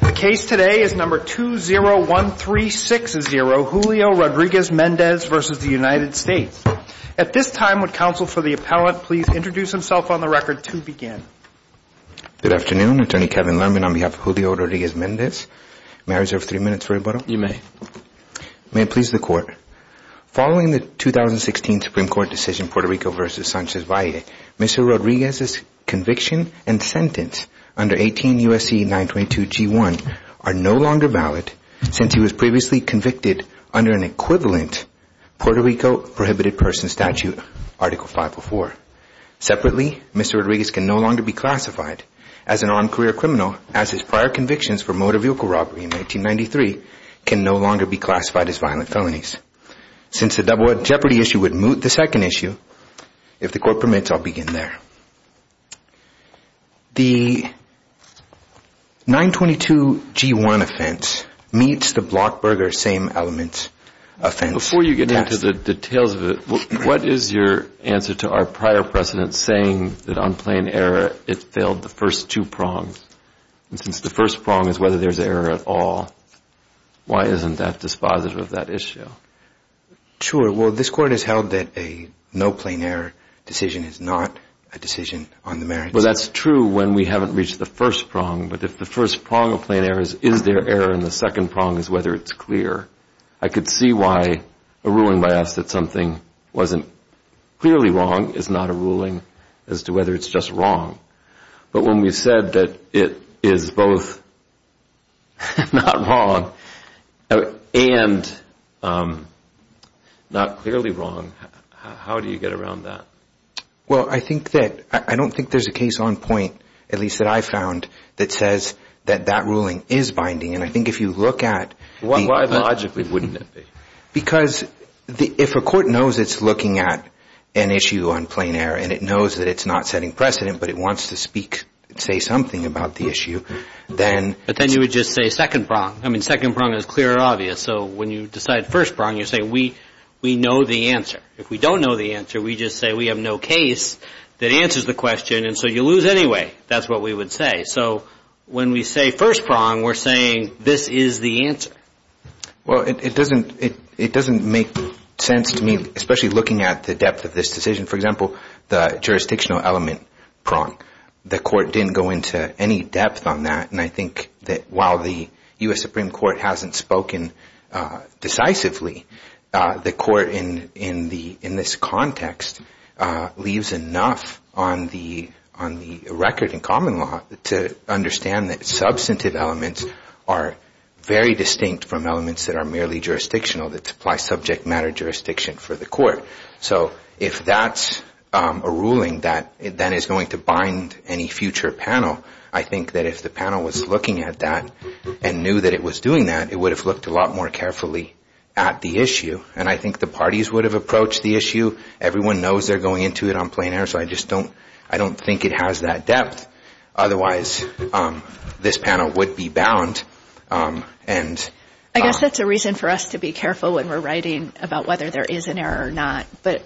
The case today is number 201360, Julio Rodriguez-Mendez v. United States. At this time, would counsel for the appellate please introduce himself on the record to begin. Good afternoon, Attorney Kevin Lerman on behalf of Julio Rodriguez-Mendez, may I reserve three minutes for rebuttal? You may. May it please the Court, following the 2016 Supreme Court decision Puerto Rico v. Sanchez v. Valle, Mr. Rodriguez's conviction and sentence under 18 U.S.C. 922 G1 are no longer valid since he was previously convicted under an equivalent Puerto Rico prohibited person statute Article 504. Separately, Mr. Rodriguez can no longer be classified as an on-career criminal as his prior convictions for motor vehicle robbery in 1993 can no longer be classified as violent felonies. Since the double jeopardy issue would moot the second issue, if the Court permits, I'll begin there. The 922 G1 offense meets the Blockburger same element offense test. Before you get into the details of it, what is your answer to our prior precedent saying that on plain error it failed the first two prongs? Since the first prong is whether there's error at all, why isn't that dispositive of that issue? Sure. Well, this Court has held that a no plain error decision is not a decision on the merits. Well, that's true when we haven't reached the first prong, but if the first prong of plain error is is there error and the second prong is whether it's clear, I could see why a ruling by us that something wasn't clearly wrong is not a ruling as to whether it's just wrong. But when we've said that it is both not wrong and not clearly wrong, how do you get around that? Well, I think that I don't think there's a case on point, at least that I found, that says that that ruling is binding. And I think if you look at the Why logically wouldn't it be? Because if a Court knows it's looking at an issue on plain error and it knows that it's not setting precedent, but it wants to speak, say something about the issue, then But then you would just say second prong. I mean, second prong is clear and obvious. So when you decide first prong, you say we know the answer. If we don't know the answer, we just say we have no case that answers the question. And so you lose anyway. That's what we would say. So when we say first prong, we're saying this is the answer. Well, it doesn't make sense to me, especially looking at the depth of this decision. For example, the jurisdictional element prong. The Court didn't go into any depth on that. And I think that while the U.S. Supreme Court hasn't spoken decisively, the Court in this context leaves enough on the record in common law to understand that substantive elements are very distinct from elements that are merely jurisdictional, that supply subject matter jurisdiction for the Court. So if that's a ruling that then is going to bind any future panel, I think that if the panel was looking at that and knew that it was doing that, it would have looked a lot more carefully at the issue. And I think the parties would have approached the issue. Everyone knows they're going into it on plain air, so I just don't I don't think it has that depth. Otherwise, this panel would be bound. And I guess that's a reason for us to be careful when we're writing about whether there is an error or not. But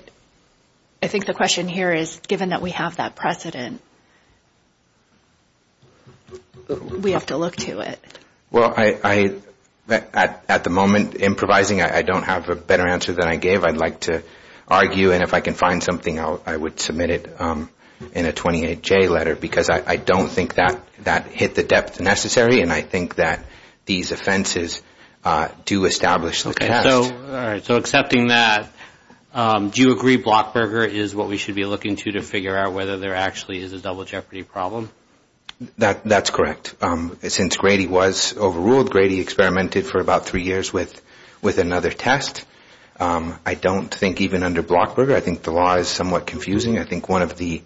I think the question here is, given that we have that precedent, we have to look to it. Well, at the moment, improvising, I don't have a better answer than I gave. I'd like to argue. And if I can find something, I would submit it in a 28J letter because I don't think that hit the depth necessary. And I think that these offenses do establish the test. All right. So accepting that, do you agree Blockberger is what we should be looking to to figure out whether there actually is a double jeopardy problem? That's correct. Since Grady was overruled, Grady experimented for about three years with another test. I don't think even under Blockberger, I think the law is somewhat confusing. I think one of the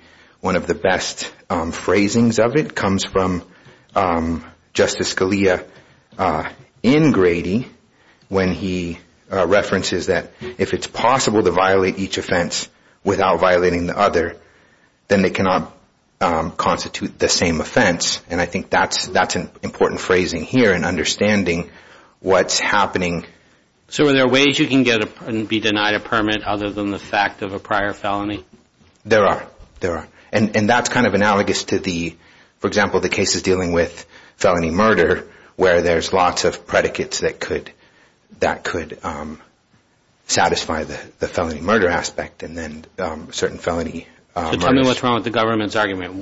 best phrasings of it comes from Justice Scalia in Grady when he references that if it's possible to violate each offense without violating the other, then they cannot constitute the same offense. And I think that's an important phrasing here in understanding what's happening. So are there ways you can be denied a permit other than the fact of a prior felony? There are. There are. And that's kind of analogous to the, for example, the cases dealing with felony murder where there's lots of predicates that could satisfy the felony murder aspect and then certain felony murders. So tell me what's wrong with the government's argument.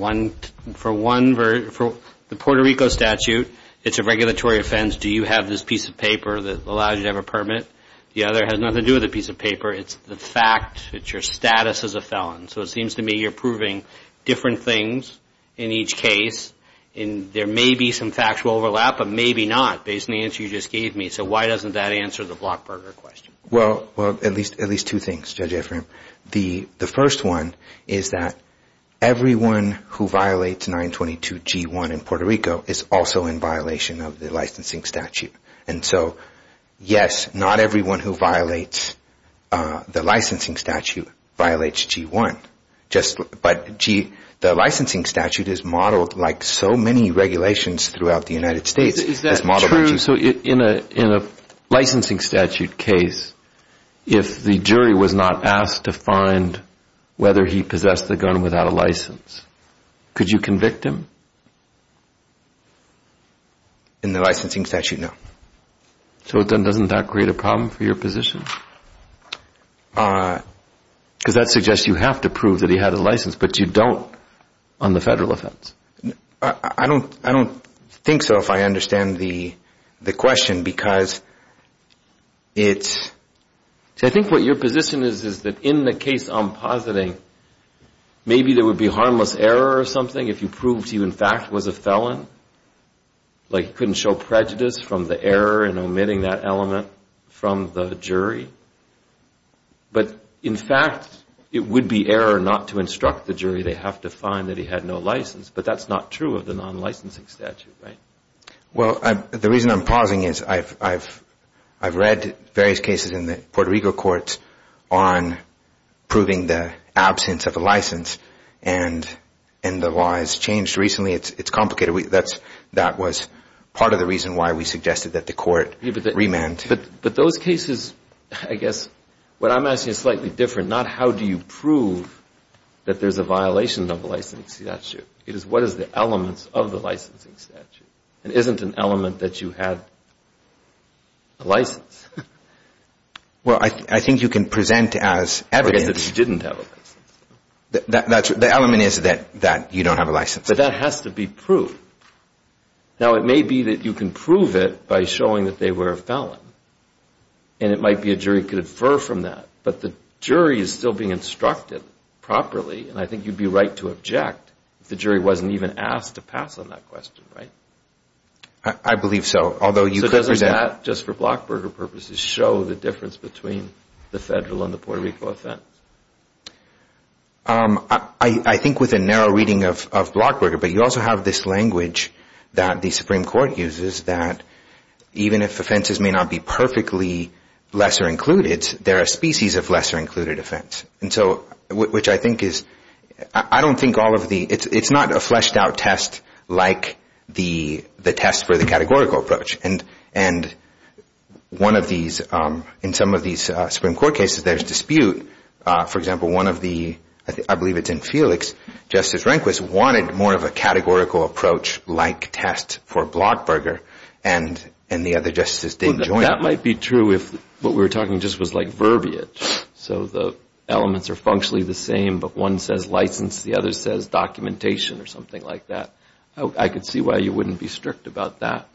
For one, for the Puerto Rico statute, it's a regulatory offense. Do you have this piece of paper that allows you to have a permit? The other has nothing to do with the piece of paper. It's the fact. It's your status as a felon. So it seems to me you're proving different things in each case, and there may be some factual overlap, but maybe not based on the answer you just gave me. So why doesn't that answer the Blockberger question? Well, at least two things, Judge Ephraim. The first one is that everyone who violates 922 G1 in Puerto Rico is also in violation of the licensing statute. And so, yes, not everyone who violates the licensing statute violates G1, but the licensing statute is modeled like so many regulations throughout the United States. Is that true? So in a licensing statute case, if the jury was not asked to find whether he possessed the gun without a license, could you convict him? In the licensing statute, no. So then doesn't that create a problem for your position? Because that suggests you have to prove that he had a license, but you don't on the federal offense. I don't think so, if I understand the question, because it's... I think what your position is, is that in the case I'm positing, maybe there would be harmless error or something if you proved he, in fact, was a felon, like he couldn't show prejudice from the error in omitting that element from the jury. But in fact, it would be error not to instruct the jury they have to find that he had no license, but that's not true of the non-licensing statute, right? Well, the reason I'm pausing is I've read various cases in the Puerto Rico courts on proving the absence of a license, and the law has changed recently. It's complicated. That was part of the reason why we suggested that the court remand. But those cases, I guess, what I'm asking is slightly different, not how do you prove that there's a violation of the licensing statute. It is what is the elements of the licensing statute. It isn't an element that you had a license. Well, I think you can present as evidence... That you didn't have a license. The element is that you don't have a license. But that has to be proved. Now, it may be that you can prove it by showing that they were a felon, and it might be a jury could infer from that. But the jury is still being instructed properly, and I think you'd be right to object if the jury wasn't even asked to pass on that question, right? I believe so. Although you could present... So doesn't that, just for Blockberger purposes, show the difference between the federal and the Puerto Rico offense? I think with a narrow reading of Blockberger, but you also have this language that the Supreme Court uses that even if offenses may not be perfectly lesser included, there are species of lesser included offense. And so, which I think is... I don't think all of the... It's not a fleshed out test like the test for the categorical approach. And in some of these Supreme Court cases, there's dispute. For example, one of the... I believe it's in Felix, Justice Rehnquist wanted more of a categorical approach like test for Blockberger, and the other justices didn't join. That might be true if what we were talking just was like verbiage. So the elements are functionally the same, but one says license, the other says documentation or something like that. I could see why you wouldn't be strict about that.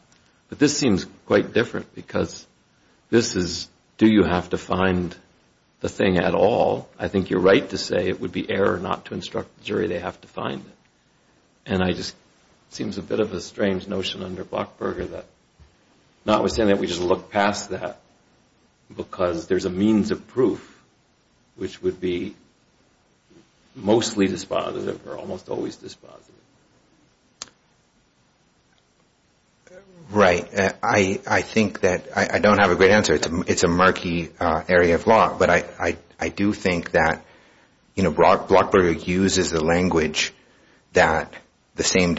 But this seems quite different because this is, do you have to find the thing at all? I think you're right to say it would be error not to instruct the jury they have to find it. And I just... It seems a bit of a strange notion under Blockberger that notwithstanding that we just look past that because there's a means of proof which would be mostly dispositive or almost always dispositive. Right. I think that... I don't have a great answer. It's a murky area of law. But I do think that Blockberger uses the language that the same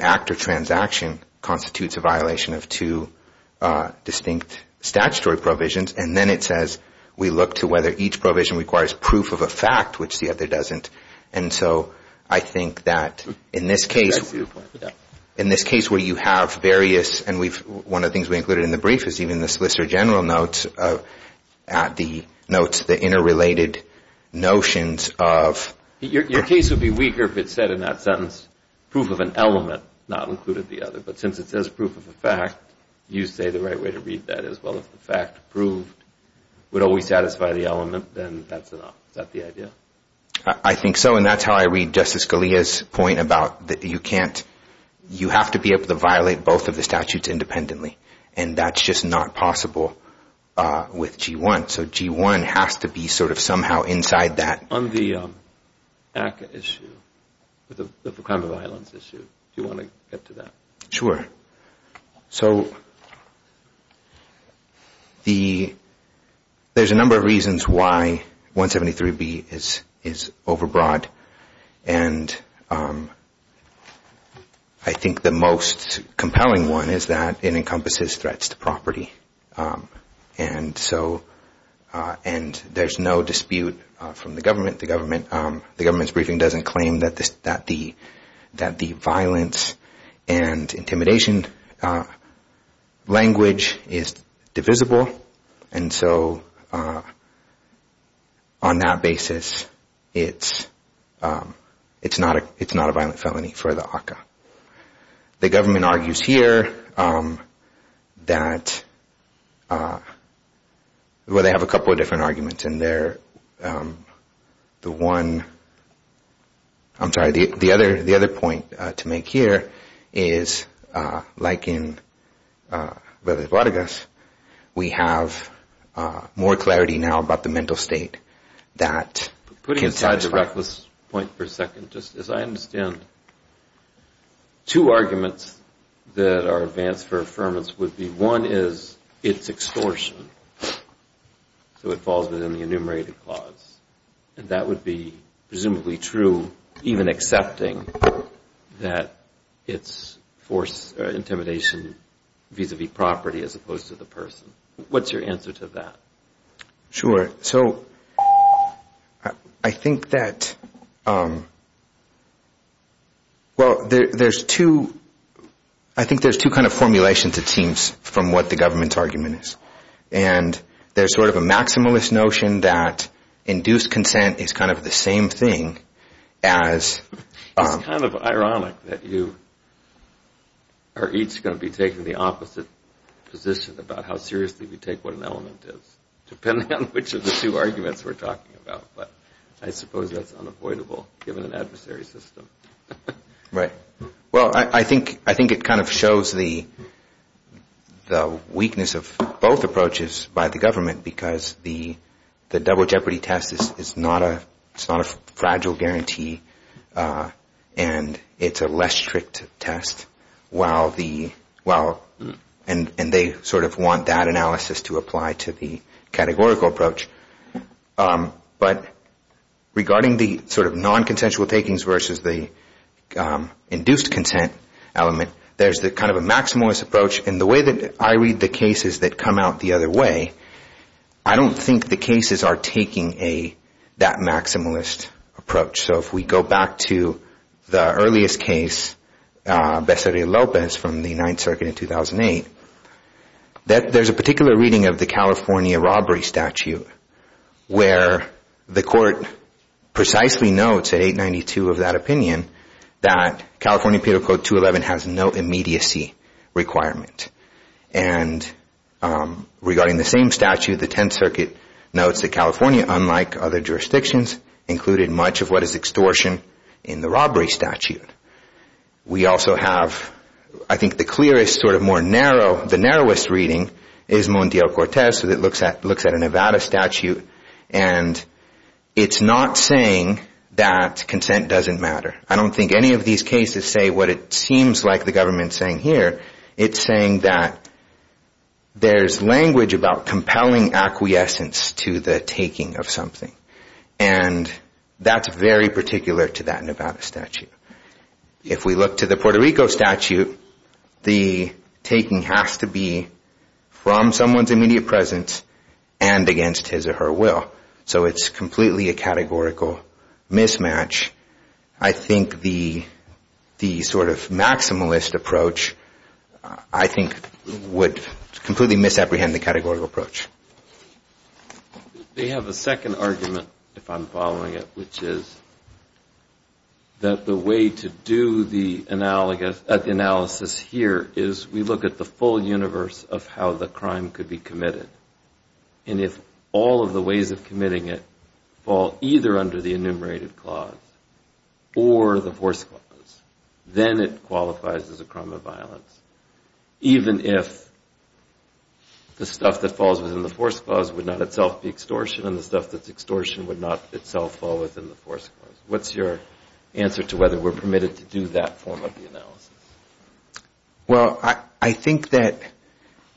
act or transaction constitutes a violation of two distinct statutory provisions, and then it says we look to whether each provision requires proof of a fact, which the other doesn't. And so I think that in this case... In this case where you have various, and one of the things we included in the brief is even the solicitor general notes the interrelated notions of... Your case would be weaker if it said in that sentence proof of an element, not included the other. But since it says proof of a fact, you say the right way to read that as well as the fact proved would always satisfy the element, then that's enough. Is that the idea? I think so. And that's how I read Justice Scalia's point about that you can't... You have to be able to violate both of the statutes independently. And that's just not possible with G-1. So G-1 has to be sort of somehow inside that. On the ACCA issue, the crime of violence issue, do you want to get to that? Sure. So, there's a number of reasons why 173B is overbroad. And I think the most compelling one is that it encompasses threats to property. And so, and there's no dispute from the government. The government's briefing doesn't claim that the violence and intimidation language is divisible. And so, on that basis, it's not a violent felony for the ACCA. The government argues here that, well, they have a couple of different arguments in there. The one, I'm sorry, the other point to make here is, like in Vélez Vládegas, we have more clarity now about the mental state that can satisfy... Two arguments that are advanced for affirmance would be, one is, it's extortion, so it falls within the enumerated clause. And that would be presumably true, even accepting that it's forced intimidation vis-a-vis property as opposed to the person. What's your answer to that? Sure. So, I think that, well, there's two, I think there's two kind of formulations, it seems, from what the government's argument is. And there's sort of a maximalist notion that induced consent is kind of the same thing as... It's kind of ironic that you are each going to be taking the opposite position about how seriously we take what an element is, depending on which of the two arguments we're talking about. But I suppose that's unavoidable, given an adversary system. Right. Well, I think it kind of shows the weakness of both approaches by the government, because the double jeopardy test is not a fragile guarantee, and it's a less strict test. And they sort of want that analysis to apply to the categorical approach. But regarding the sort of non-consensual takings versus the induced consent element, there's the kind of a maximalist approach, and the way that I read the cases that come out the other way, I don't think the cases are taking that maximalist approach. So if we go back to the earliest case, Becerra-Lopez, from the 9th Circuit in 2008, there's a particular reading of the California robbery statute, where the court precisely notes at 892 of that opinion that California Penal Code 211 has no immediacy requirement. And regarding the same statute, the 10th Circuit notes that California, unlike other jurisdictions, included much of what is extortion in the robbery statute. We also have, I think the clearest, sort of more narrow, the narrowest reading is Montiel-Cortez, that looks at a Nevada statute, and it's not saying that consent doesn't matter. I don't think any of these cases say what it seems like the government's saying here. It's saying that there's language about compelling acquiescence to the taking of something. And that's very particular to that Nevada statute. If we look to the Puerto Rico statute, the taking has to be from someone's immediate presence and against his or her will. So it's completely a categorical mismatch. I think the sort of maximalist approach, I think, would completely misapprehend the categorical approach. They have a second argument, if I'm following it, which is that the way to do the analysis here is we look at the full universe of how the crime could be committed. And if all of the ways of committing it fall either under the enumerated clause or the force clause, then it qualifies as a crime of violence, even if the stuff that falls within the force clause would not itself be extortion and the stuff that's extortion would not itself fall within the force clause. What's your answer to whether we're permitted to do that form of the analysis? Well, I think that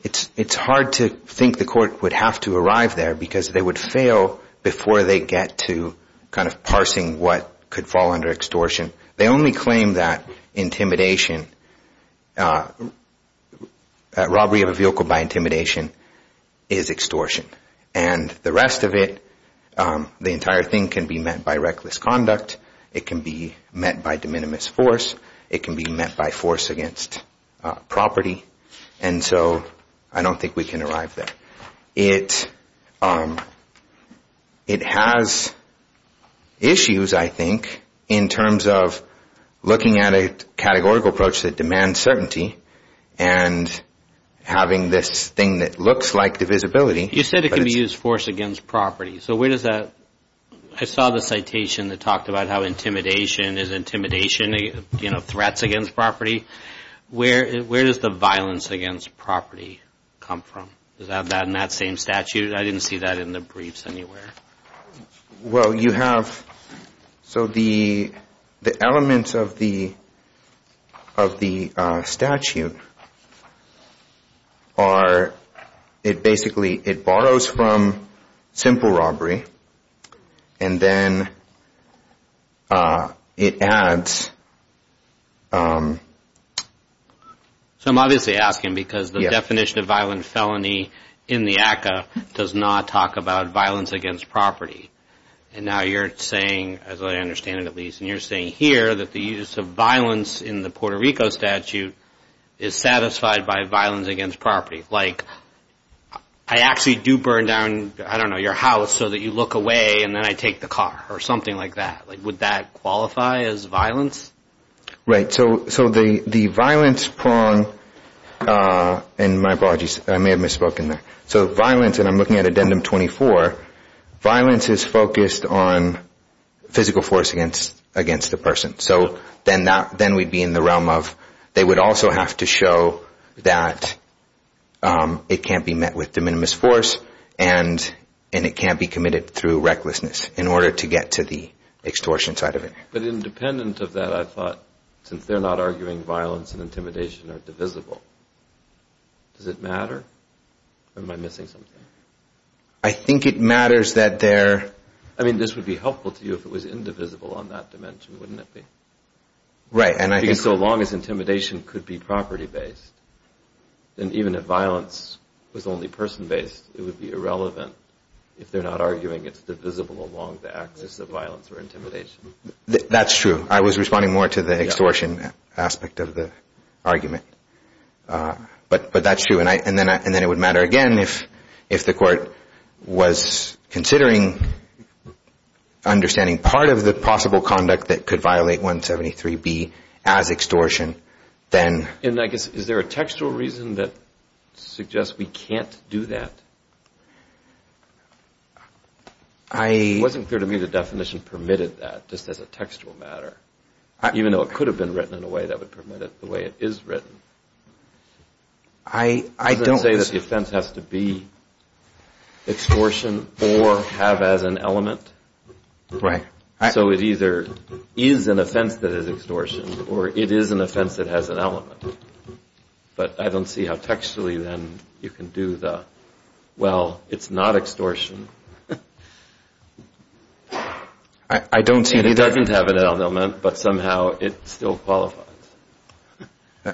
it's hard to think the court would have to arrive there because they would fail before they get to kind of parsing what could fall under extortion. They only claim that intimidation, robbery of a vehicle by intimidation, is extortion. And the rest of it, the entire thing can be met by reckless conduct. It can be met by de minimis force. It can be met by force against property. And so I don't think we can arrive there. It has issues, I think, in terms of looking at a categorical approach that demands certainty and having this thing that looks like divisibility. You said it can be used force against property. So where does that, I saw the citation that talked about how intimidation is intimidation, you know, threats against property. Where does the violence against property come from? Does that have that in that same statute? I didn't see that in the briefs anywhere. Well, you have, so the elements of the statute are, it basically, it borrows from simple robbery and then it adds. So I'm obviously asking because the definition of violent felony in the ACCA does not talk about violence against property. And now you're saying, as I understand it at least, and you're saying here that the use of violence in the Puerto Rico statute is satisfied by violence against property. Like I actually do burn down, I don't know, your house so that you look away and then I take the car or something like that. Would that qualify as violence? Right, so the violence prong, and my apologies, I may have misspoken there. So violence, and I'm looking at addendum 24, violence is focused on physical force against a person. So then we'd be in the realm of, they would also have to show that it can't be met with de minimis force and it can't be committed through recklessness in order to get to the extortion side of it. But independent of that, I thought, since they're not arguing violence and intimidation are divisible, does it matter? Or am I missing something? I think it matters that they're... I mean, this would be helpful to you if it was indivisible on that dimension, wouldn't it be? Right, and I think... Because so long as intimidation could be property based, then even if violence was only person based, it would be irrelevant if they're not arguing it's divisible along the axis of violence or intimidation. That's true. I was responding more to the extortion aspect of the argument. But that's true, and then it would matter again if the court was considering understanding part of the possible conduct that could violate 173B as extortion, then... And I guess, is there a textual reason that suggests we can't do that? It wasn't clear to me the definition permitted that, just as a textual matter. Even though it could have been written in a way that would permit it the way it is written. I don't... Doesn't it say that the offense has to be extortion or have as an element? Right. So it either is an offense that is extortion or it is an offense that has an element. But I don't see how textually, then, you can do the, well, it's not extortion. I don't see it either. It doesn't have an element, but somehow it still qualifies.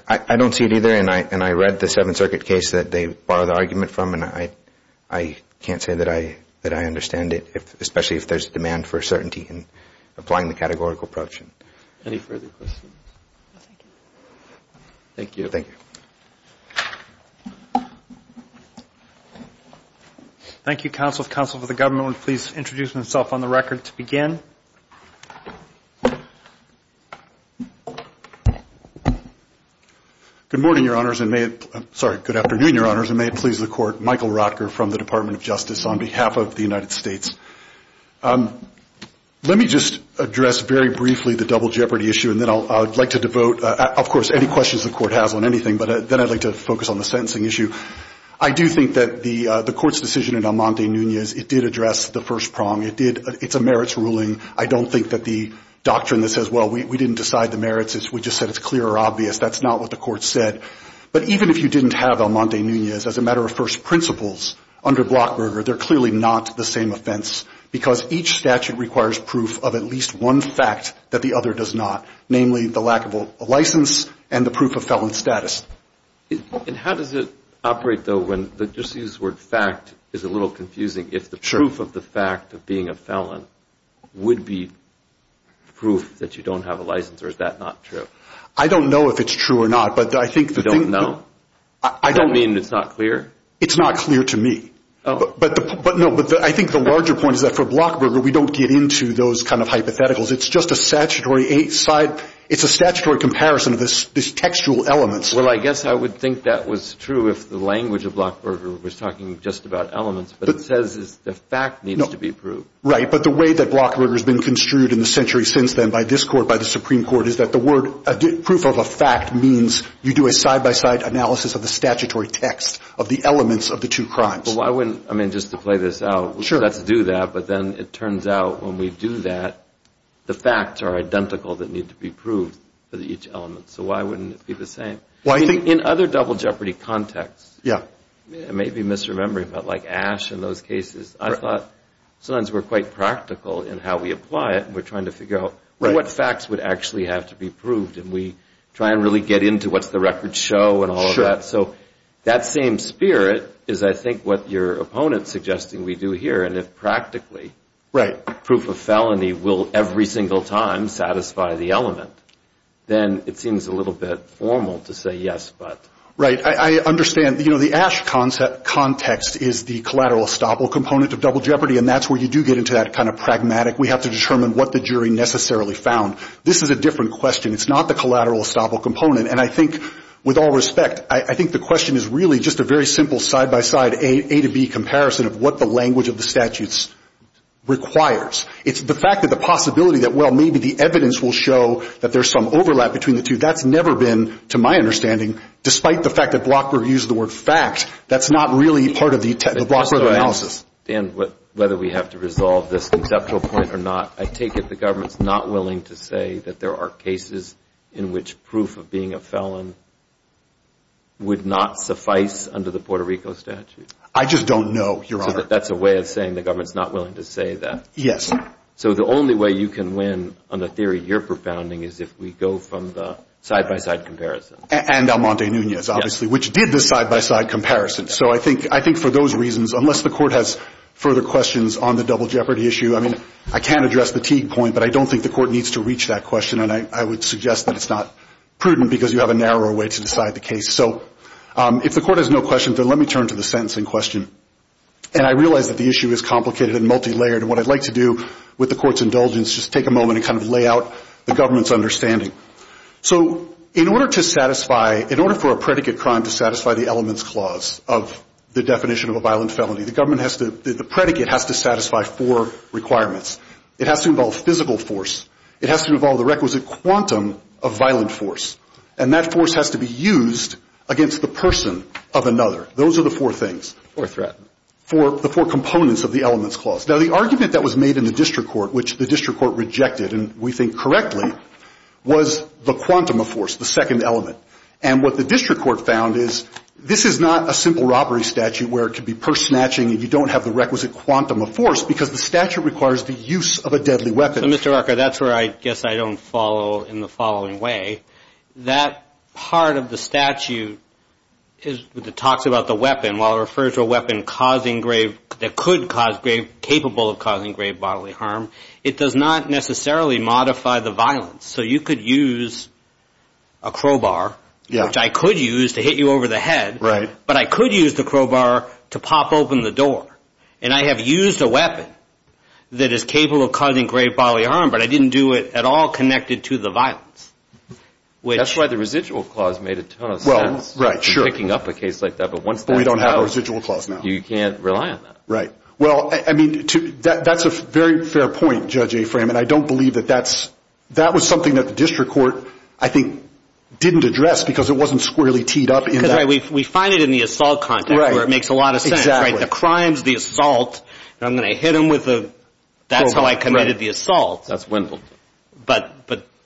I don't see it either, and I read the Seventh Circuit case that they borrowed the argument from, and I can't say that I understand it, especially if there's a demand for certainty in applying the categorical approach. Any further questions? Thank you. Thank you, counsel. Counsel for the government would please introduce himself on the record to begin. Good morning, your honors, and may it... Sorry, good afternoon, your honors, and may it please the court. Michael Rotker from the Department of Justice on behalf of the United States. Let me just address very briefly the double jeopardy issue, and then I would like to devote, of course, any questions the court has on anything, but then I'd like to focus on the sentencing issue. I do think that the court's decision in Almonte-Nunez, it did address the first prong. It did. It's a merits ruling. I don't think that the doctrine that says, well, we didn't decide the merits, we just said it's clear or obvious, that's not what the court said. But even if you didn't have Almonte-Nunez as a matter of first principles under Blockberger, they're clearly not the same offense, because each statute requires proof of at least one fact that the other does not, namely the lack of a license and the proof of felon status. And how does it operate, though, when, just to use the word fact is a little confusing, if the proof of the fact of being a felon would be proof that you don't have a license, or is that not true? I don't know if it's true or not, but I think the thing... You don't know? Does that mean it's not clear? It's not clear to me. No, but I think the larger point is that for Blockberger, we don't get into those kind of hypotheticals. It's just a statutory... It's a statutory comparison of these textual elements. Well, I guess I would think that was true if the language of Blockberger was talking just about elements, but it says the fact needs to be proved. Right, but the way that Blockberger has been construed in the century since then by this Court, by the Supreme Court, is that the word proof of a fact means you do a side-by-side analysis of the statutory text of the elements of the two crimes. I mean, just to play this out, let's do that, but then it turns out when we do that, the facts are identical that need to be proved for each element, so why wouldn't it be the same? In other double jeopardy contexts, it may be misremembering, but like Ash in those cases, I thought sometimes we're quite practical in how we apply it, and we're trying to figure out what facts would actually have to be proved, and we try and really get into what's the record show and all of that, so that same spirit is, I think, what your opponent is suggesting we do here, and if practically proof of felony will every single time satisfy the element, then it seems a little bit formal to say yes, but. Right, I understand. You know, the Ash context is the collateral estoppel component of double jeopardy, and that's where you do get into that kind of pragmatic, we have to determine what the jury necessarily found. This is a different question. It's not the collateral estoppel component, and I think with all respect, I think the question is really just a very simple side-by-side A to B comparison of what the language of the statutes requires. It's the fact that the possibility that, well, maybe the evidence will show that there's some overlap between the two, that's never been, to my understanding, despite the fact that Blockberg used the word fact, that's not really part of the Blockberg analysis. Dan, whether we have to resolve this conceptual point or not, I take it the government's not willing to say that there are cases in which proof of being a felon would not suffice under the Puerto Rico statute? I just don't know, Your Honor. So that's a way of saying the government's not willing to say that? Yes. So the only way you can win on the theory you're profounding is if we go from the side-by-side comparison. And Almonte Nunez, obviously, which did the side-by-side comparison. So I think for those reasons, unless the Court has further questions on the double jeopardy issue, I mean, I can't address the Teague point, but I don't think the Court needs to reach that question, and I would suggest that it's not prudent because you have a narrower way to decide the case. So if the Court has no questions, then let me turn to the sentencing question. And I realize that the issue is complicated and multilayered, and what I'd like to do with the Court's indulgence is just take a moment and kind of lay out the government's understanding. So in order to satisfy, in order for a predicate crime to satisfy the elements clause of the definition of a violent felony, the government has to, the predicate has to satisfy four requirements. It has to involve physical force. It has to involve the requisite quantum of violent force. And that force has to be used against the person of another. Those are the four things. Or threatened. The four components of the elements clause. Now, the argument that was made in the district court, which the district court rejected, and we think correctly, was the quantum of force, the second element. And what the district court found is this is not a simple robbery statute where it could be purse snatching and you don't have the requisite quantum of force because the statute requires the use of a deadly weapon. So Mr. Rucker, that's where I guess I don't follow in the following way. That part of the statute talks about the weapon, while it refers to a weapon that could cause grave, capable of causing grave bodily harm, it does not necessarily modify the violence. So you could use a crowbar, which I could use to hit you over the head. Right. But I could use the crowbar to pop open the door. And I have used a weapon that is capable of causing grave bodily harm, but I didn't do it at all connected to the violence. That's why the residual clause made a ton of sense. Well, right, sure. In picking up a case like that. But we don't have a residual clause now. You can't rely on that. Right. Well, I mean, that's a very fair point, Judge Afram. And I don't believe that that's, that was something that the district court, I think, didn't address because it wasn't squarely teed up in that. Because, right, we find it in the assault context where it makes a lot of sense. Exactly. The crimes, the assault, and I'm going to hit him with a crowbar. That's how I committed the assault. That's Wendell. But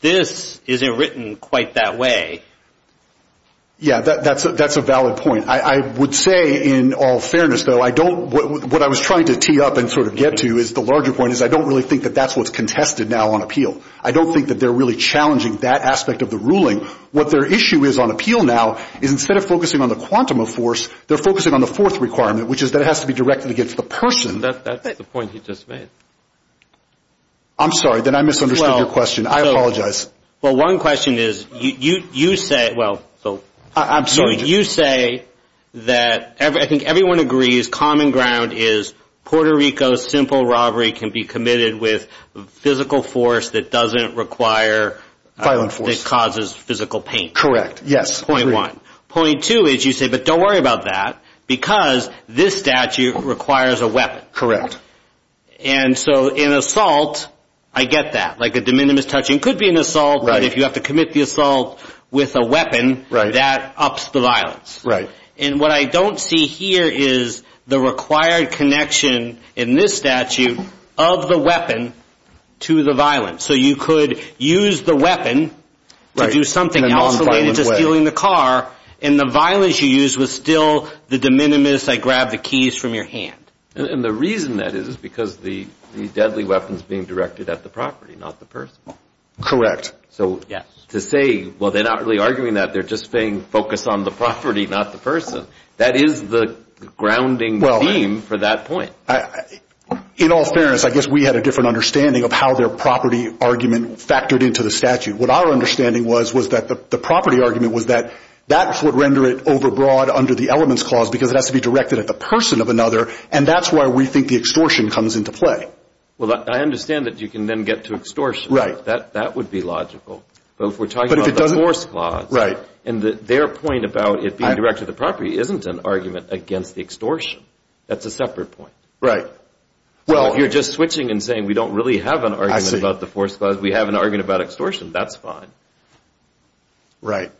this isn't written quite that way. Yeah, that's a valid point. I would say, in all fairness, though, I don't, what I was trying to tee up and sort of get to is the larger point is I don't really think that that's what's contested now on appeal. I don't think that they're really challenging that aspect of the ruling. What their issue is on appeal now is instead of focusing on the quantum of force, they're focusing on the fourth requirement, which is that it has to be directed against the person. That's the point he just made. I'm sorry. Then I misunderstood your question. I apologize. Well, one question is, you say, well, you say that, I think everyone agrees, common ground is Puerto Rico's simple robbery can be committed with physical force that doesn't require Violent force. That causes physical pain. Yes. Point one. Point two is you say, but don't worry about that because this statute requires a weapon. Correct. And so in assault, I get that. Like a de minimis touching could be an assault, but if you have to commit the assault with a weapon, that ups the violence. Right. And what I don't see here is the required connection in this statute of the weapon to the violence. So you could use the weapon to do something else. Right. In a non-violent way. And the violence you use was still the de minimis, I grabbed the keys from your hand. And the reason that is, is because the deadly weapon's being directed at the property, not the person. Correct. So to say, well, they're not really arguing that, they're just saying focus on the property, not the person. That is the grounding theme for that point. In all fairness, I guess we had a different understanding of how their property argument factored into the statute. What our understanding was, was that the property argument was that that would render it over broad under the elements clause because it has to be directed at the person of another, and that's why we think the extortion comes into play. Well, I understand that you can then get to extortion. That would be logical. But if we're talking about the force clause. Right. And their point about it being directed at the property isn't an argument against the extortion. That's a separate point. Well, if you're just switching and saying we don't really have an argument about the force clause, we have an argument about extortion, that's fine. Right.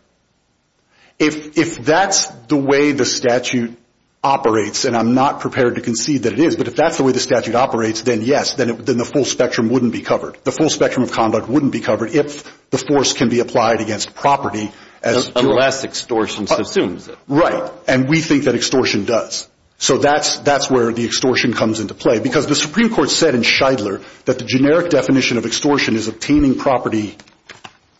If that's the way the statute operates, and I'm not prepared to concede that it is, but if that's the way the statute operates, then yes, then the full spectrum wouldn't be covered. The full spectrum of conduct wouldn't be covered if the force can be applied against property. Unless extortion subsumes it. Right. And we think that extortion does. So that's where the extortion comes into play, because the Supreme Court said in Shidler that the generic definition of extortion is obtaining property.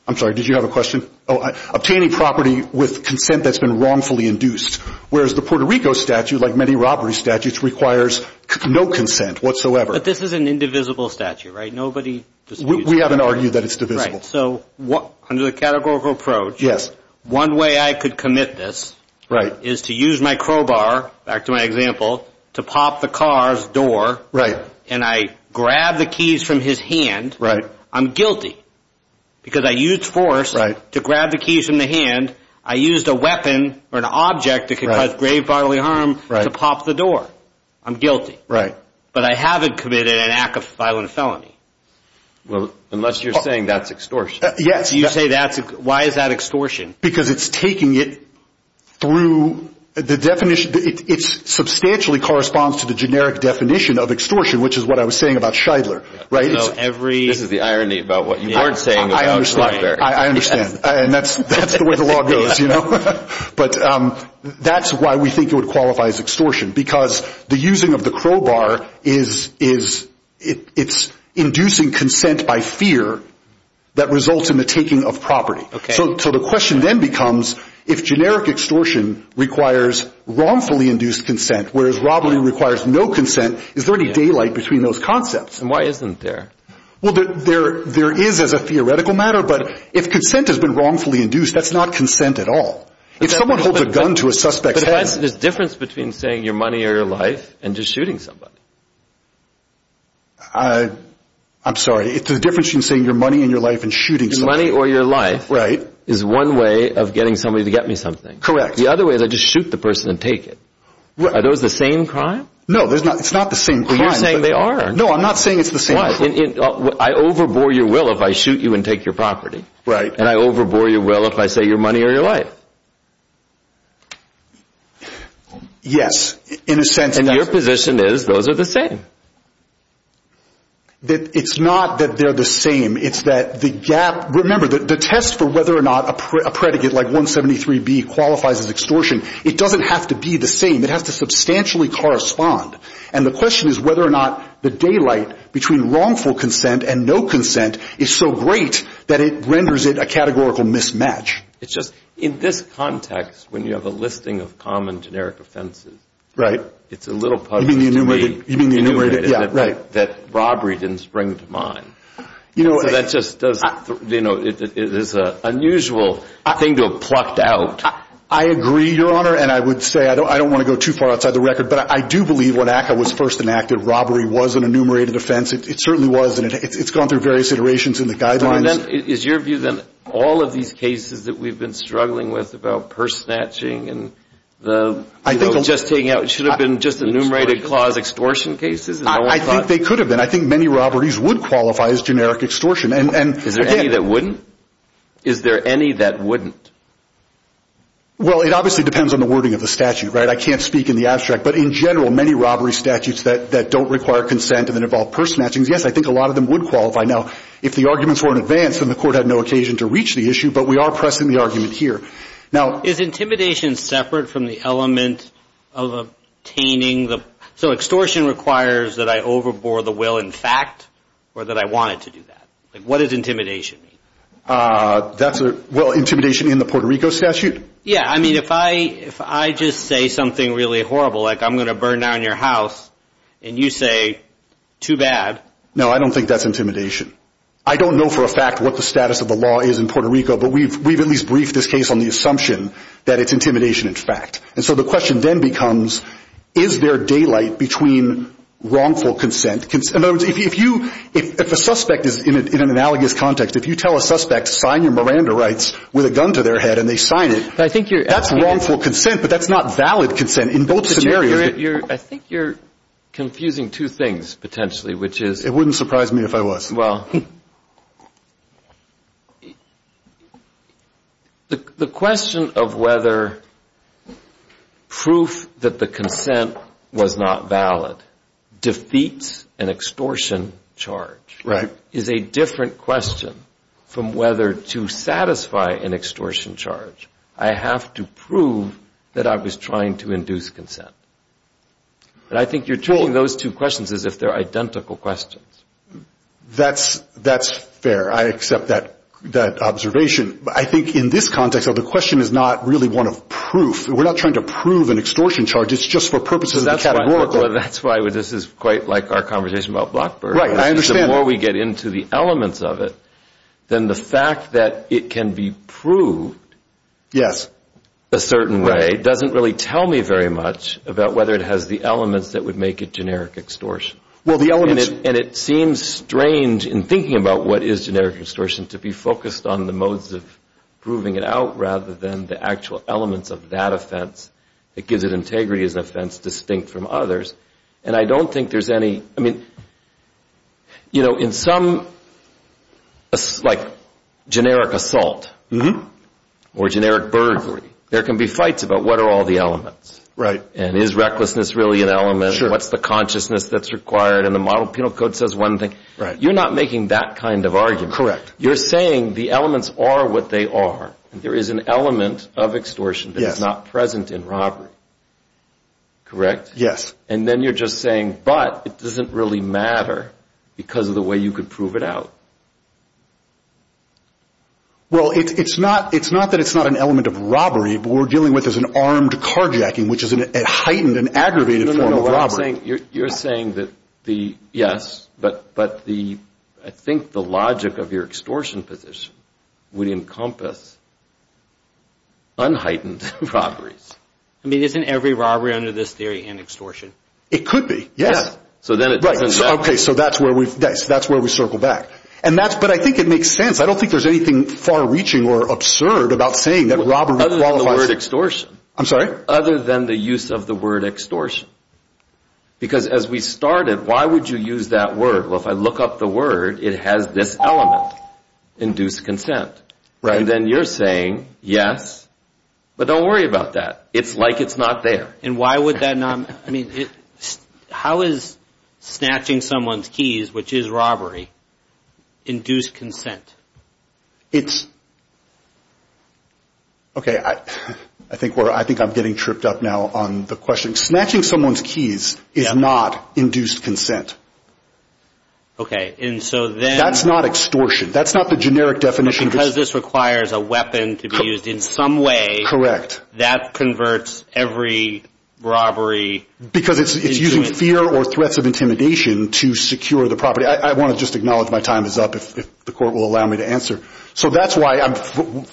I'm sorry. Did you have a question? Obtaining property with consent that's been wrongfully induced, whereas the Puerto Rico statute, like many robbery statutes, requires no consent whatsoever. But this is an indivisible statute, right? Nobody disagrees. We haven't argued that it's divisible. Right. So under the categorical approach. Yes. One way I could commit this is to use my crowbar, back to my example, to pop the car's door. Right. And I grab the keys from his hand. Right. I'm guilty, because I used force to grab the keys from the hand. I used a weapon or an object that could cause grave bodily harm to pop the door. I'm guilty. Right. But I haven't committed an act of violent felony. Well, unless you're saying that's extortion. Yes. If you say that's extortion, why is that extortion? Because it's taking it through the definition. It substantially corresponds to the generic definition of extortion, which is what I was saying about Shidler. This is the irony about what you weren't saying about Shidler. I understand. And that's the way the law goes, you know? But that's why we think it would qualify as extortion, because the using of the crowbar is inducing consent by fear that results in the taking of property. Okay. So the question then becomes, if generic extortion requires wrongfully induced consent, whereas robbery requires no consent, is there any daylight between those concepts? And why isn't there? Well, there is as a theoretical matter, but if consent has been wrongfully induced, that's not consent at all. If someone holds a gun to a suspect's head... But there's a difference between saying your money or your life and just shooting somebody. I'm sorry. It's the difference between saying your money and your life and shooting somebody. Your money or your life is one way of getting somebody to get me something. Correct. The other way is I just shoot the person and take it. Are those the same crime? No, it's not the same crime. But you're saying they are. No, I'm not saying it's the same crime. I overbore your will if I shoot you and take your property. Right. And I overbore your will if I say your money or your life. Yes, in a sense... And your position is those are the same. It's not that they're the same. It's that the gap... Remember, the test for whether or not a predicate like 173B qualifies as extortion, it doesn't have to be the same. It has to substantially correspond. And the question is whether or not the daylight between wrongful consent and no consent is so great that it renders it a categorical mismatch. It's just in this context, when you have a listing of common generic offenses, it's a little puzzling to me that robbery didn't spring to mind. So that just is an unusual thing to have plucked out. I agree, Your Honor, and I would say I don't want to go too far outside the record. But I do believe when ACCA was first enacted, robbery was an enumerated offense. It certainly was, and it's gone through various iterations in the guidelines. Is your view that all of these cases that we've been struggling with about purse snatching and just taking out... Should have been just enumerated clause extortion cases? I think they could have been. I think many robberies would qualify as generic extortion. Is there any that wouldn't? Well, it obviously depends on the wording of the statute, right? I can't speak in the abstract. But in general, many robbery statutes that don't require consent and that involve purse snatchings, yes, I think a lot of them would qualify. Now, if the arguments were in advance, then the court had no occasion to reach the issue, but we are pressing the argument here. Now... Is intimidation separate from the element of obtaining the... So extortion requires that I overbore the will in fact or that I wanted to do that? What does intimidation mean? Well, intimidation in the Puerto Rico statute? Yeah, I mean, if I just say something really horrible, like I'm going to burn down your house, and you say, too bad. No, I don't think that's intimidation. I don't know for a fact what the status of the law is in Puerto Rico, but we've at least briefed this case on the assumption that it's intimidation in fact. And so the question then becomes, is there daylight between wrongful consent? In other words, if a suspect is in an analogous context, if you tell a suspect, sign your Miranda rights with a gun to their head and they sign it, that's wrongful consent, but that's not valid consent in both scenarios. I think you're confusing two things potentially, which is... It wouldn't surprise me if I was. Well, the question of whether proof that the consent was not valid defeats an extortion charge is a different question from whether to satisfy an extortion charge, I have to prove that I was trying to induce consent. And I think you're treating those two questions as if they're identical questions. That's fair. I accept that observation. I think in this context, though, the question is not really one of proof. We're not trying to prove an extortion charge. It's just for purposes of the categorical. That's why this is quite like our conversation about Blackburn. Right, I understand. The more we get into the elements of it, then the fact that it can be proved a certain way doesn't really tell me very much about whether it has the elements that would make it generic extortion. And it seems strange in thinking about what is generic extortion to be focused on the modes of proving it out rather than the actual elements of that offense that gives it integrity as an offense distinct from others. And I don't think there's any, I mean, you know, in some, like, generic assault or generic burglary, there can be fights about what are all the elements. Right. And is recklessness really an element? Sure. What's the consciousness that's required? And the model penal code says one thing. Right. You're not making that kind of argument. Correct. You're saying the elements are what they are. There is an element of extortion that is not present in robbery. Yes. And then you're just saying, but it doesn't really matter because of the way you could prove it out. Well, it's not that it's not an element of robbery, but we're dealing with as an armed carjacking, which is a heightened and aggravated form of robbery. No, no, no. You're saying that the, yes, but I think the logic of your extortion position would encompass unheightened robberies. I mean, isn't every robbery under this theory an extortion? It could be, yes. So then it doesn't matter. Okay, so that's where we circle back. And that's, but I think it makes sense. I don't think there's anything far reaching or absurd about saying that robbery qualifies. Other than the word extortion. I'm sorry? Other than the use of the word extortion. Because as we started, why would you use that word? Well, if I look up the word, it has this element, induced consent. Right. Yes. But don't worry about that. It's like it's not there. And why would that not, I mean, how is snatching someone's keys, which is robbery, induced consent? It's, okay, I think I'm getting tripped up now on the question. Snatching someone's keys is not induced consent. Okay, and so then. That's not extortion. That's not the generic definition. Because this requires a weapon to be used in some way. That converts every robbery. Because it's using fear or threats of intimidation to secure the property. I want to just acknowledge my time is up if the court will allow me to answer. So that's why I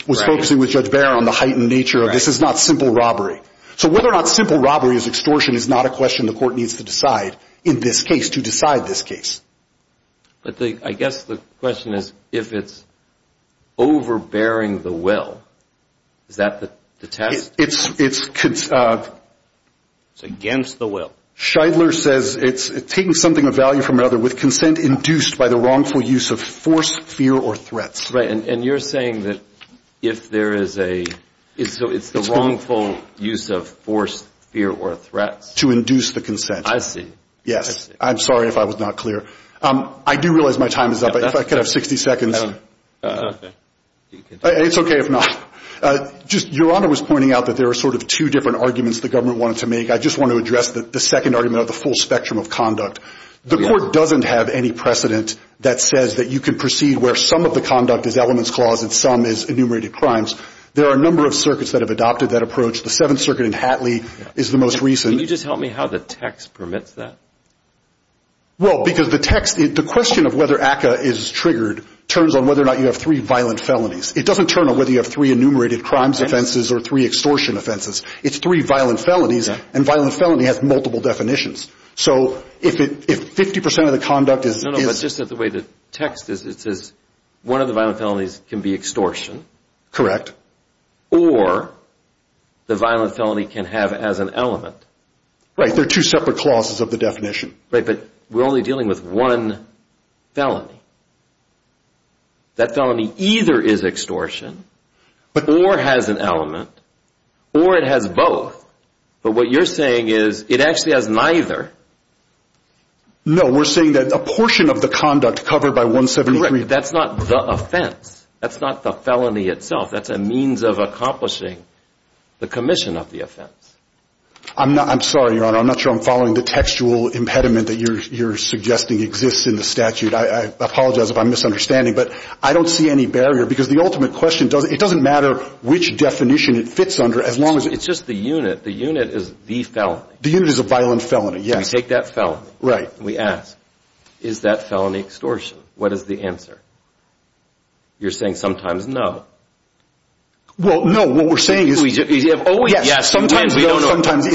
was focusing with Judge Behr on the heightened nature of this is not simple robbery. So whether or not simple robbery is extortion is not a question the court needs to decide in this case, to decide this case. But I guess the question is if it's overbearing the will, is that the test? It's against the will. Scheidler says it's taking something of value from another with consent induced by the wrongful use of force, fear, or threats. Right, and you're saying that if there is a, so it's the wrongful use of force, fear, or threats. To induce the consent. I see. Yes, I'm sorry if I was not clear. I do realize my time is up. If I could have 60 seconds. Okay. It's okay if not. Your Honor was pointing out that there are sort of two different arguments the government wanted to make. I just want to address the second argument of the full spectrum of conduct. The court doesn't have any precedent that says that you can proceed where some of the conduct is elements clause and some is enumerated crimes. There are a number of circuits that have adopted that approach. The Seventh Circuit in Hatley is the most recent. Can you just help me how the text permits that? Well, because the text, the question of whether ACCA is triggered turns on whether or not you have three violent felonies. It doesn't turn on whether you have three enumerated crimes offenses or three extortion offenses. It's three violent felonies and violent felony has multiple definitions. So if 50% of the conduct is. No, no, but just the way the text is, it says one of the violent felonies can be extortion. Correct. Or the violent felony can have as an element. Right. There are two separate clauses of the definition. Right. But we're only dealing with one felony. That felony either is extortion or has an element or it has both. But what you're saying is it actually has neither. No, we're saying that a portion of the conduct covered by 173. Correct. That's not the offense. That's not the felony itself. That's a means of accomplishing the commission of the offense. I'm sorry, Your Honor. I'm not sure I'm following the textual impediment that you're suggesting exists in the statute. I apologize if I'm misunderstanding. But I don't see any barrier because the ultimate question, it doesn't matter which definition it fits under as long as. It's just the unit. The unit is the felony. The unit is a violent felony, yes. We take that felony. Right. And we ask, is that felony extortion? What is the answer? You're saying sometimes no. Well, no. What we're saying is. Yes. Sometimes no. Sometimes no.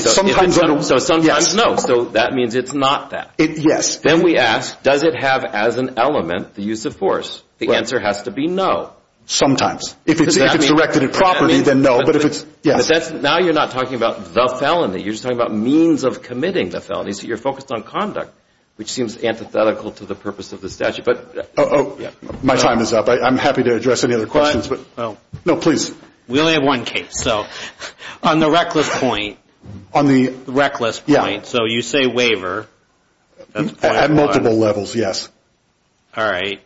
So sometimes no. So that means it's not that. Yes. Then we ask, does it have as an element the use of force? The answer has to be no. Sometimes. If it's directed at property, then no. But if it's, yes. Now you're not talking about the felony. You're just talking about means of committing the felony. So you're focused on conduct, which seems antithetical to the purpose of the statute. My time is up. I'm happy to address any other questions. No, please. We only have one case. So on the reckless point. On the. Reckless point. So you say waiver. At multiple levels, yes. All right.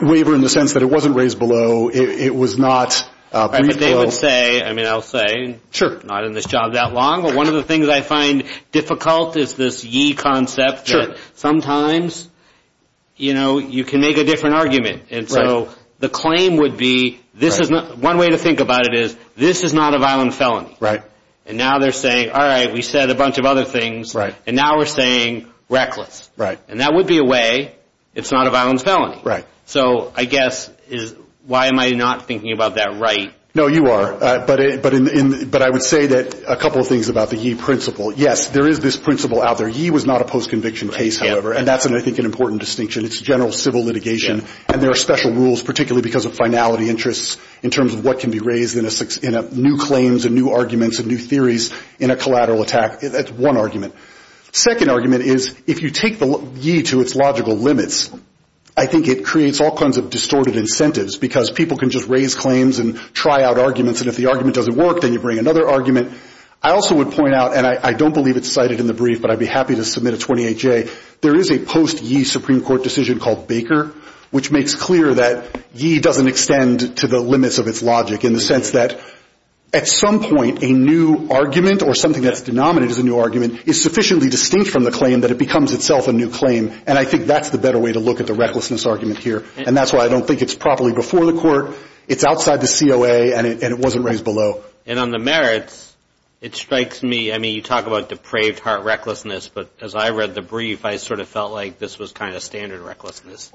Waiver in the sense that it wasn't raised below. It was not. But they would say. I mean, I'll say. Not in this job that long. But one of the things I find difficult is this yee concept. Sometimes, you know, you can make a different argument. And so the claim would be. This is not. One way to think about it is. This is not a violent felony. Right. And now they're saying. All right. We said a bunch of other things. Right. And now we're saying reckless. Right. And that would be a way. It's not a violent felony. Right. So I guess is. Why am I not thinking about that right? No, you are. But I would say that a couple of things about the yee principle. Yes, there is this principle out there. Yee was not a post-conviction case, however. And that's, I think, an important distinction. It's general civil litigation. And there are special rules. Particularly because of finality interests. In terms of what can be raised in a new claims. And new arguments. And new theories. In a collateral attack. That's one argument. Second argument is. If you take the yee to its logical limits. I think it creates all kinds of distorted incentives. Because people can just raise claims. And try out arguments. And if the argument doesn't work. Then you bring another argument. I also would point out. And I don't believe it's cited in the brief. But I'd be happy to submit a 28-J. There is a post-yee Supreme Court decision called Baker. Which makes clear that yee doesn't extend to the limits of its logic. In the sense that. At some point, a new argument. Or something that's denominated as a new argument. Is sufficiently distinct from the claim. That it becomes itself a new claim. And I think that's the better way to look at the recklessness argument here. And that's why I don't think it's properly before the court. It's outside the COA. And it wasn't raised below. And on the merits. It strikes me. I mean you talk about depraved heart recklessness. But as I read the brief. I sort of felt like this was kind of standard recklessness.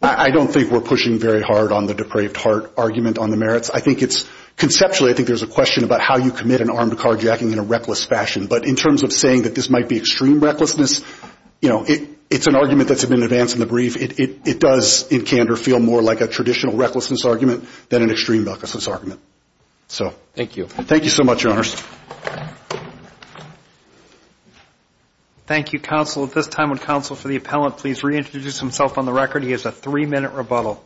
I don't think we're pushing very hard on the depraved heart argument on the merits. I think it's. Conceptually, I think there's a question. About how you commit an armed carjacking in a reckless fashion. But in terms of saying that this might be extreme recklessness. You know. It's an argument that's been advanced in the brief. It does in candor feel more like a traditional recklessness argument. Than an extreme recklessness argument. Thank you. Thank you so much your honors. Thank you counsel. At this time would counsel for the appellant please reintroduce himself on the record. He has a three minute rebuttal.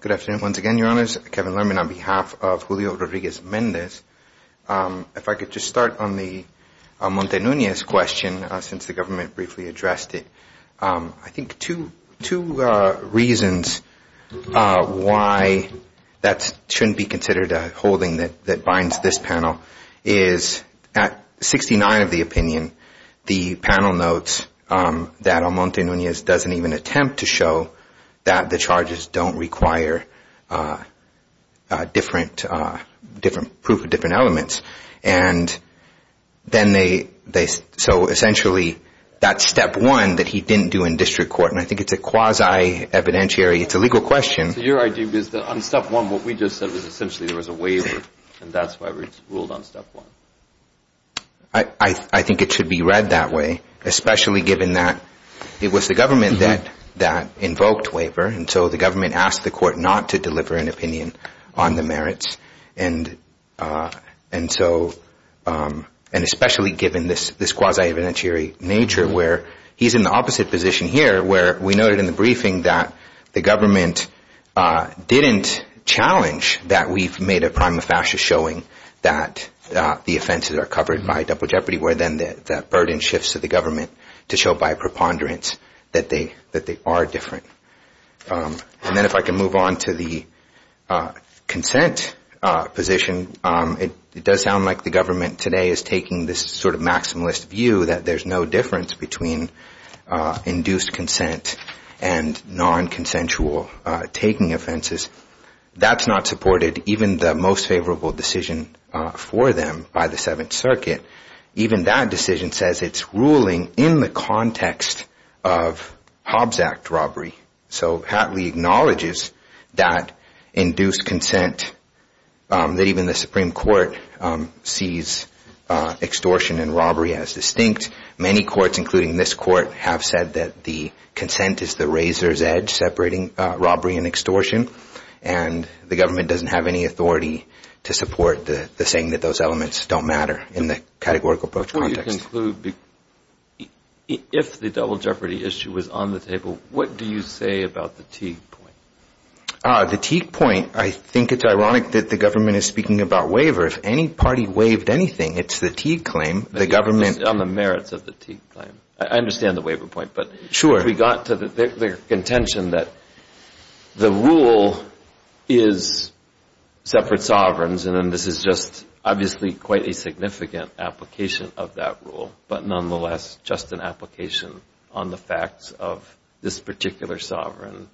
Good afternoon. Once again your honors. Kevin Lerman on behalf of Julio Rodriguez Mendez. If I could just start on the Montanunez question. Since the government briefly addressed it. I think two reasons why that shouldn't be considered a holding that binds this panel. Is at 69 of the opinion. The panel notes that on Montanunez doesn't even attempt to show. That the charges don't require different proof of different elements. And then they so essentially that's step one that he didn't do in district court. And I think it's a quasi evidentiary. It's a legal question. So your idea is that on step one what we just said was essentially there was a waiver. And that's why we ruled on step one. I think it should be read that way. Especially given that it was the government that invoked waiver. And so the government asked the court not to deliver an opinion on the merits. And so and especially given this quasi evidentiary nature. Where he's in the opposite position here. Where we noted in the briefing that the government didn't challenge. That we've made a prima facie showing that the offenses are covered by double jeopardy. Where then that burden shifts to the government. To show by preponderance that they are different. And then if I can move on to the consent position. It does sound like the government today is taking this sort of maximalist view. That there's no difference between induced consent and non-consensual taking offenses. That's not supported. Even the most favorable decision for them by the seventh circuit. Even that decision says it's ruling in the context of Hobbs Act robbery. So Hatley acknowledges that induced consent. That even the Supreme Court sees extortion and robbery as distinct. Many courts including this court have said that the consent is the razor's edge. Separating robbery and extortion. And the government doesn't have any authority to support the saying that those elements don't matter. In the categorical approach context. If the double jeopardy issue was on the table. What do you say about the Teague point? The Teague point. I think it's ironic that the government is speaking about waiver. If any party waived anything. It's the Teague claim. The government. On the merits of the Teague claim. I understand the waiver point. Sure. We got to the contention that the rule is separate sovereigns. And then this is just obviously quite a significant application of that rule. But nonetheless just an application on the facts of this particular sovereign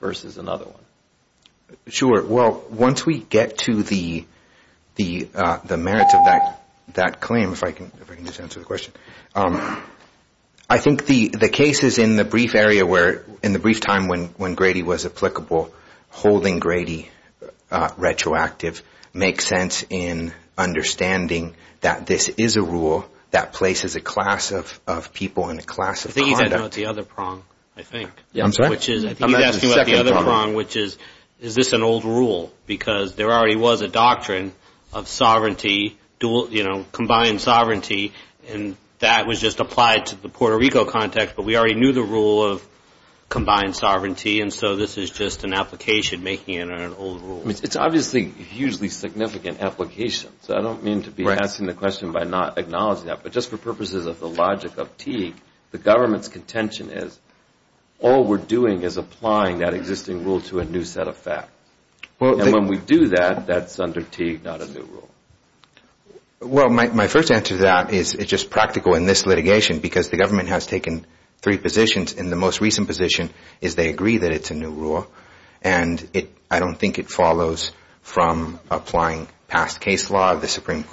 versus another one. Well, once we get to the merits of that claim. If I can just answer the question. I think the case is in the brief area where in the brief time when Grady was applicable. Holding Grady retroactive makes sense in understanding that this is a rule. That places a class of people in a class of conduct. I think he's asking about the other prong. I think. I'm sorry? I think he's asking about the other prong. Which is, is this an old rule? Because there already was a doctrine of sovereignty. You know, combined sovereignty. And that was just applied to the Puerto Rico context. But we already knew the rule of combined sovereignty. And so this is just an application making it an old rule. It's obviously hugely significant application. So I don't mean to be asking the question by not acknowledging that. But just for purposes of the logic of Teague. The government's contention is all we're doing is applying that existing rule to a new set of facts. And when we do that, that's under Teague, not a new rule. Well, my first answer to that is it's just practical in this litigation. Because the government has taken three positions. And the most recent position is they agree that it's a new rule. And I don't think it follows from applying past case law.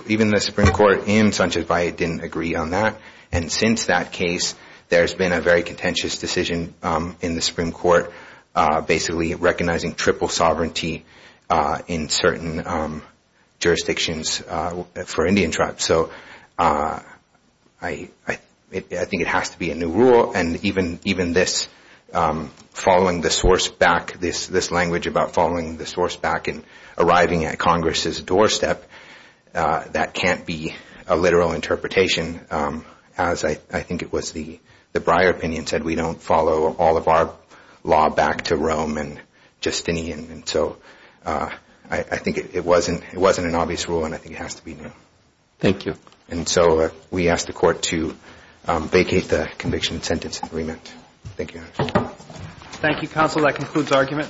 Even the Supreme Court in Sanchez Valle didn't agree on that. And since that case, there's been a very contentious decision in the Supreme Court. Basically recognizing triple sovereignty in certain jurisdictions for Indian tribes. So I think it has to be a new rule. And even this following the source back, this language about following the source back and arriving at Congress' doorstep, that can't be a literal interpretation. As I think it was the Breyer opinion said, we don't follow all of our law back to Rome and Justinian. And so I think it wasn't an obvious rule. And I think it has to be new. Thank you. And so we ask the Court to vacate the conviction and sentence agreement. Thank you, Your Honor. Thank you, counsel. That concludes argument.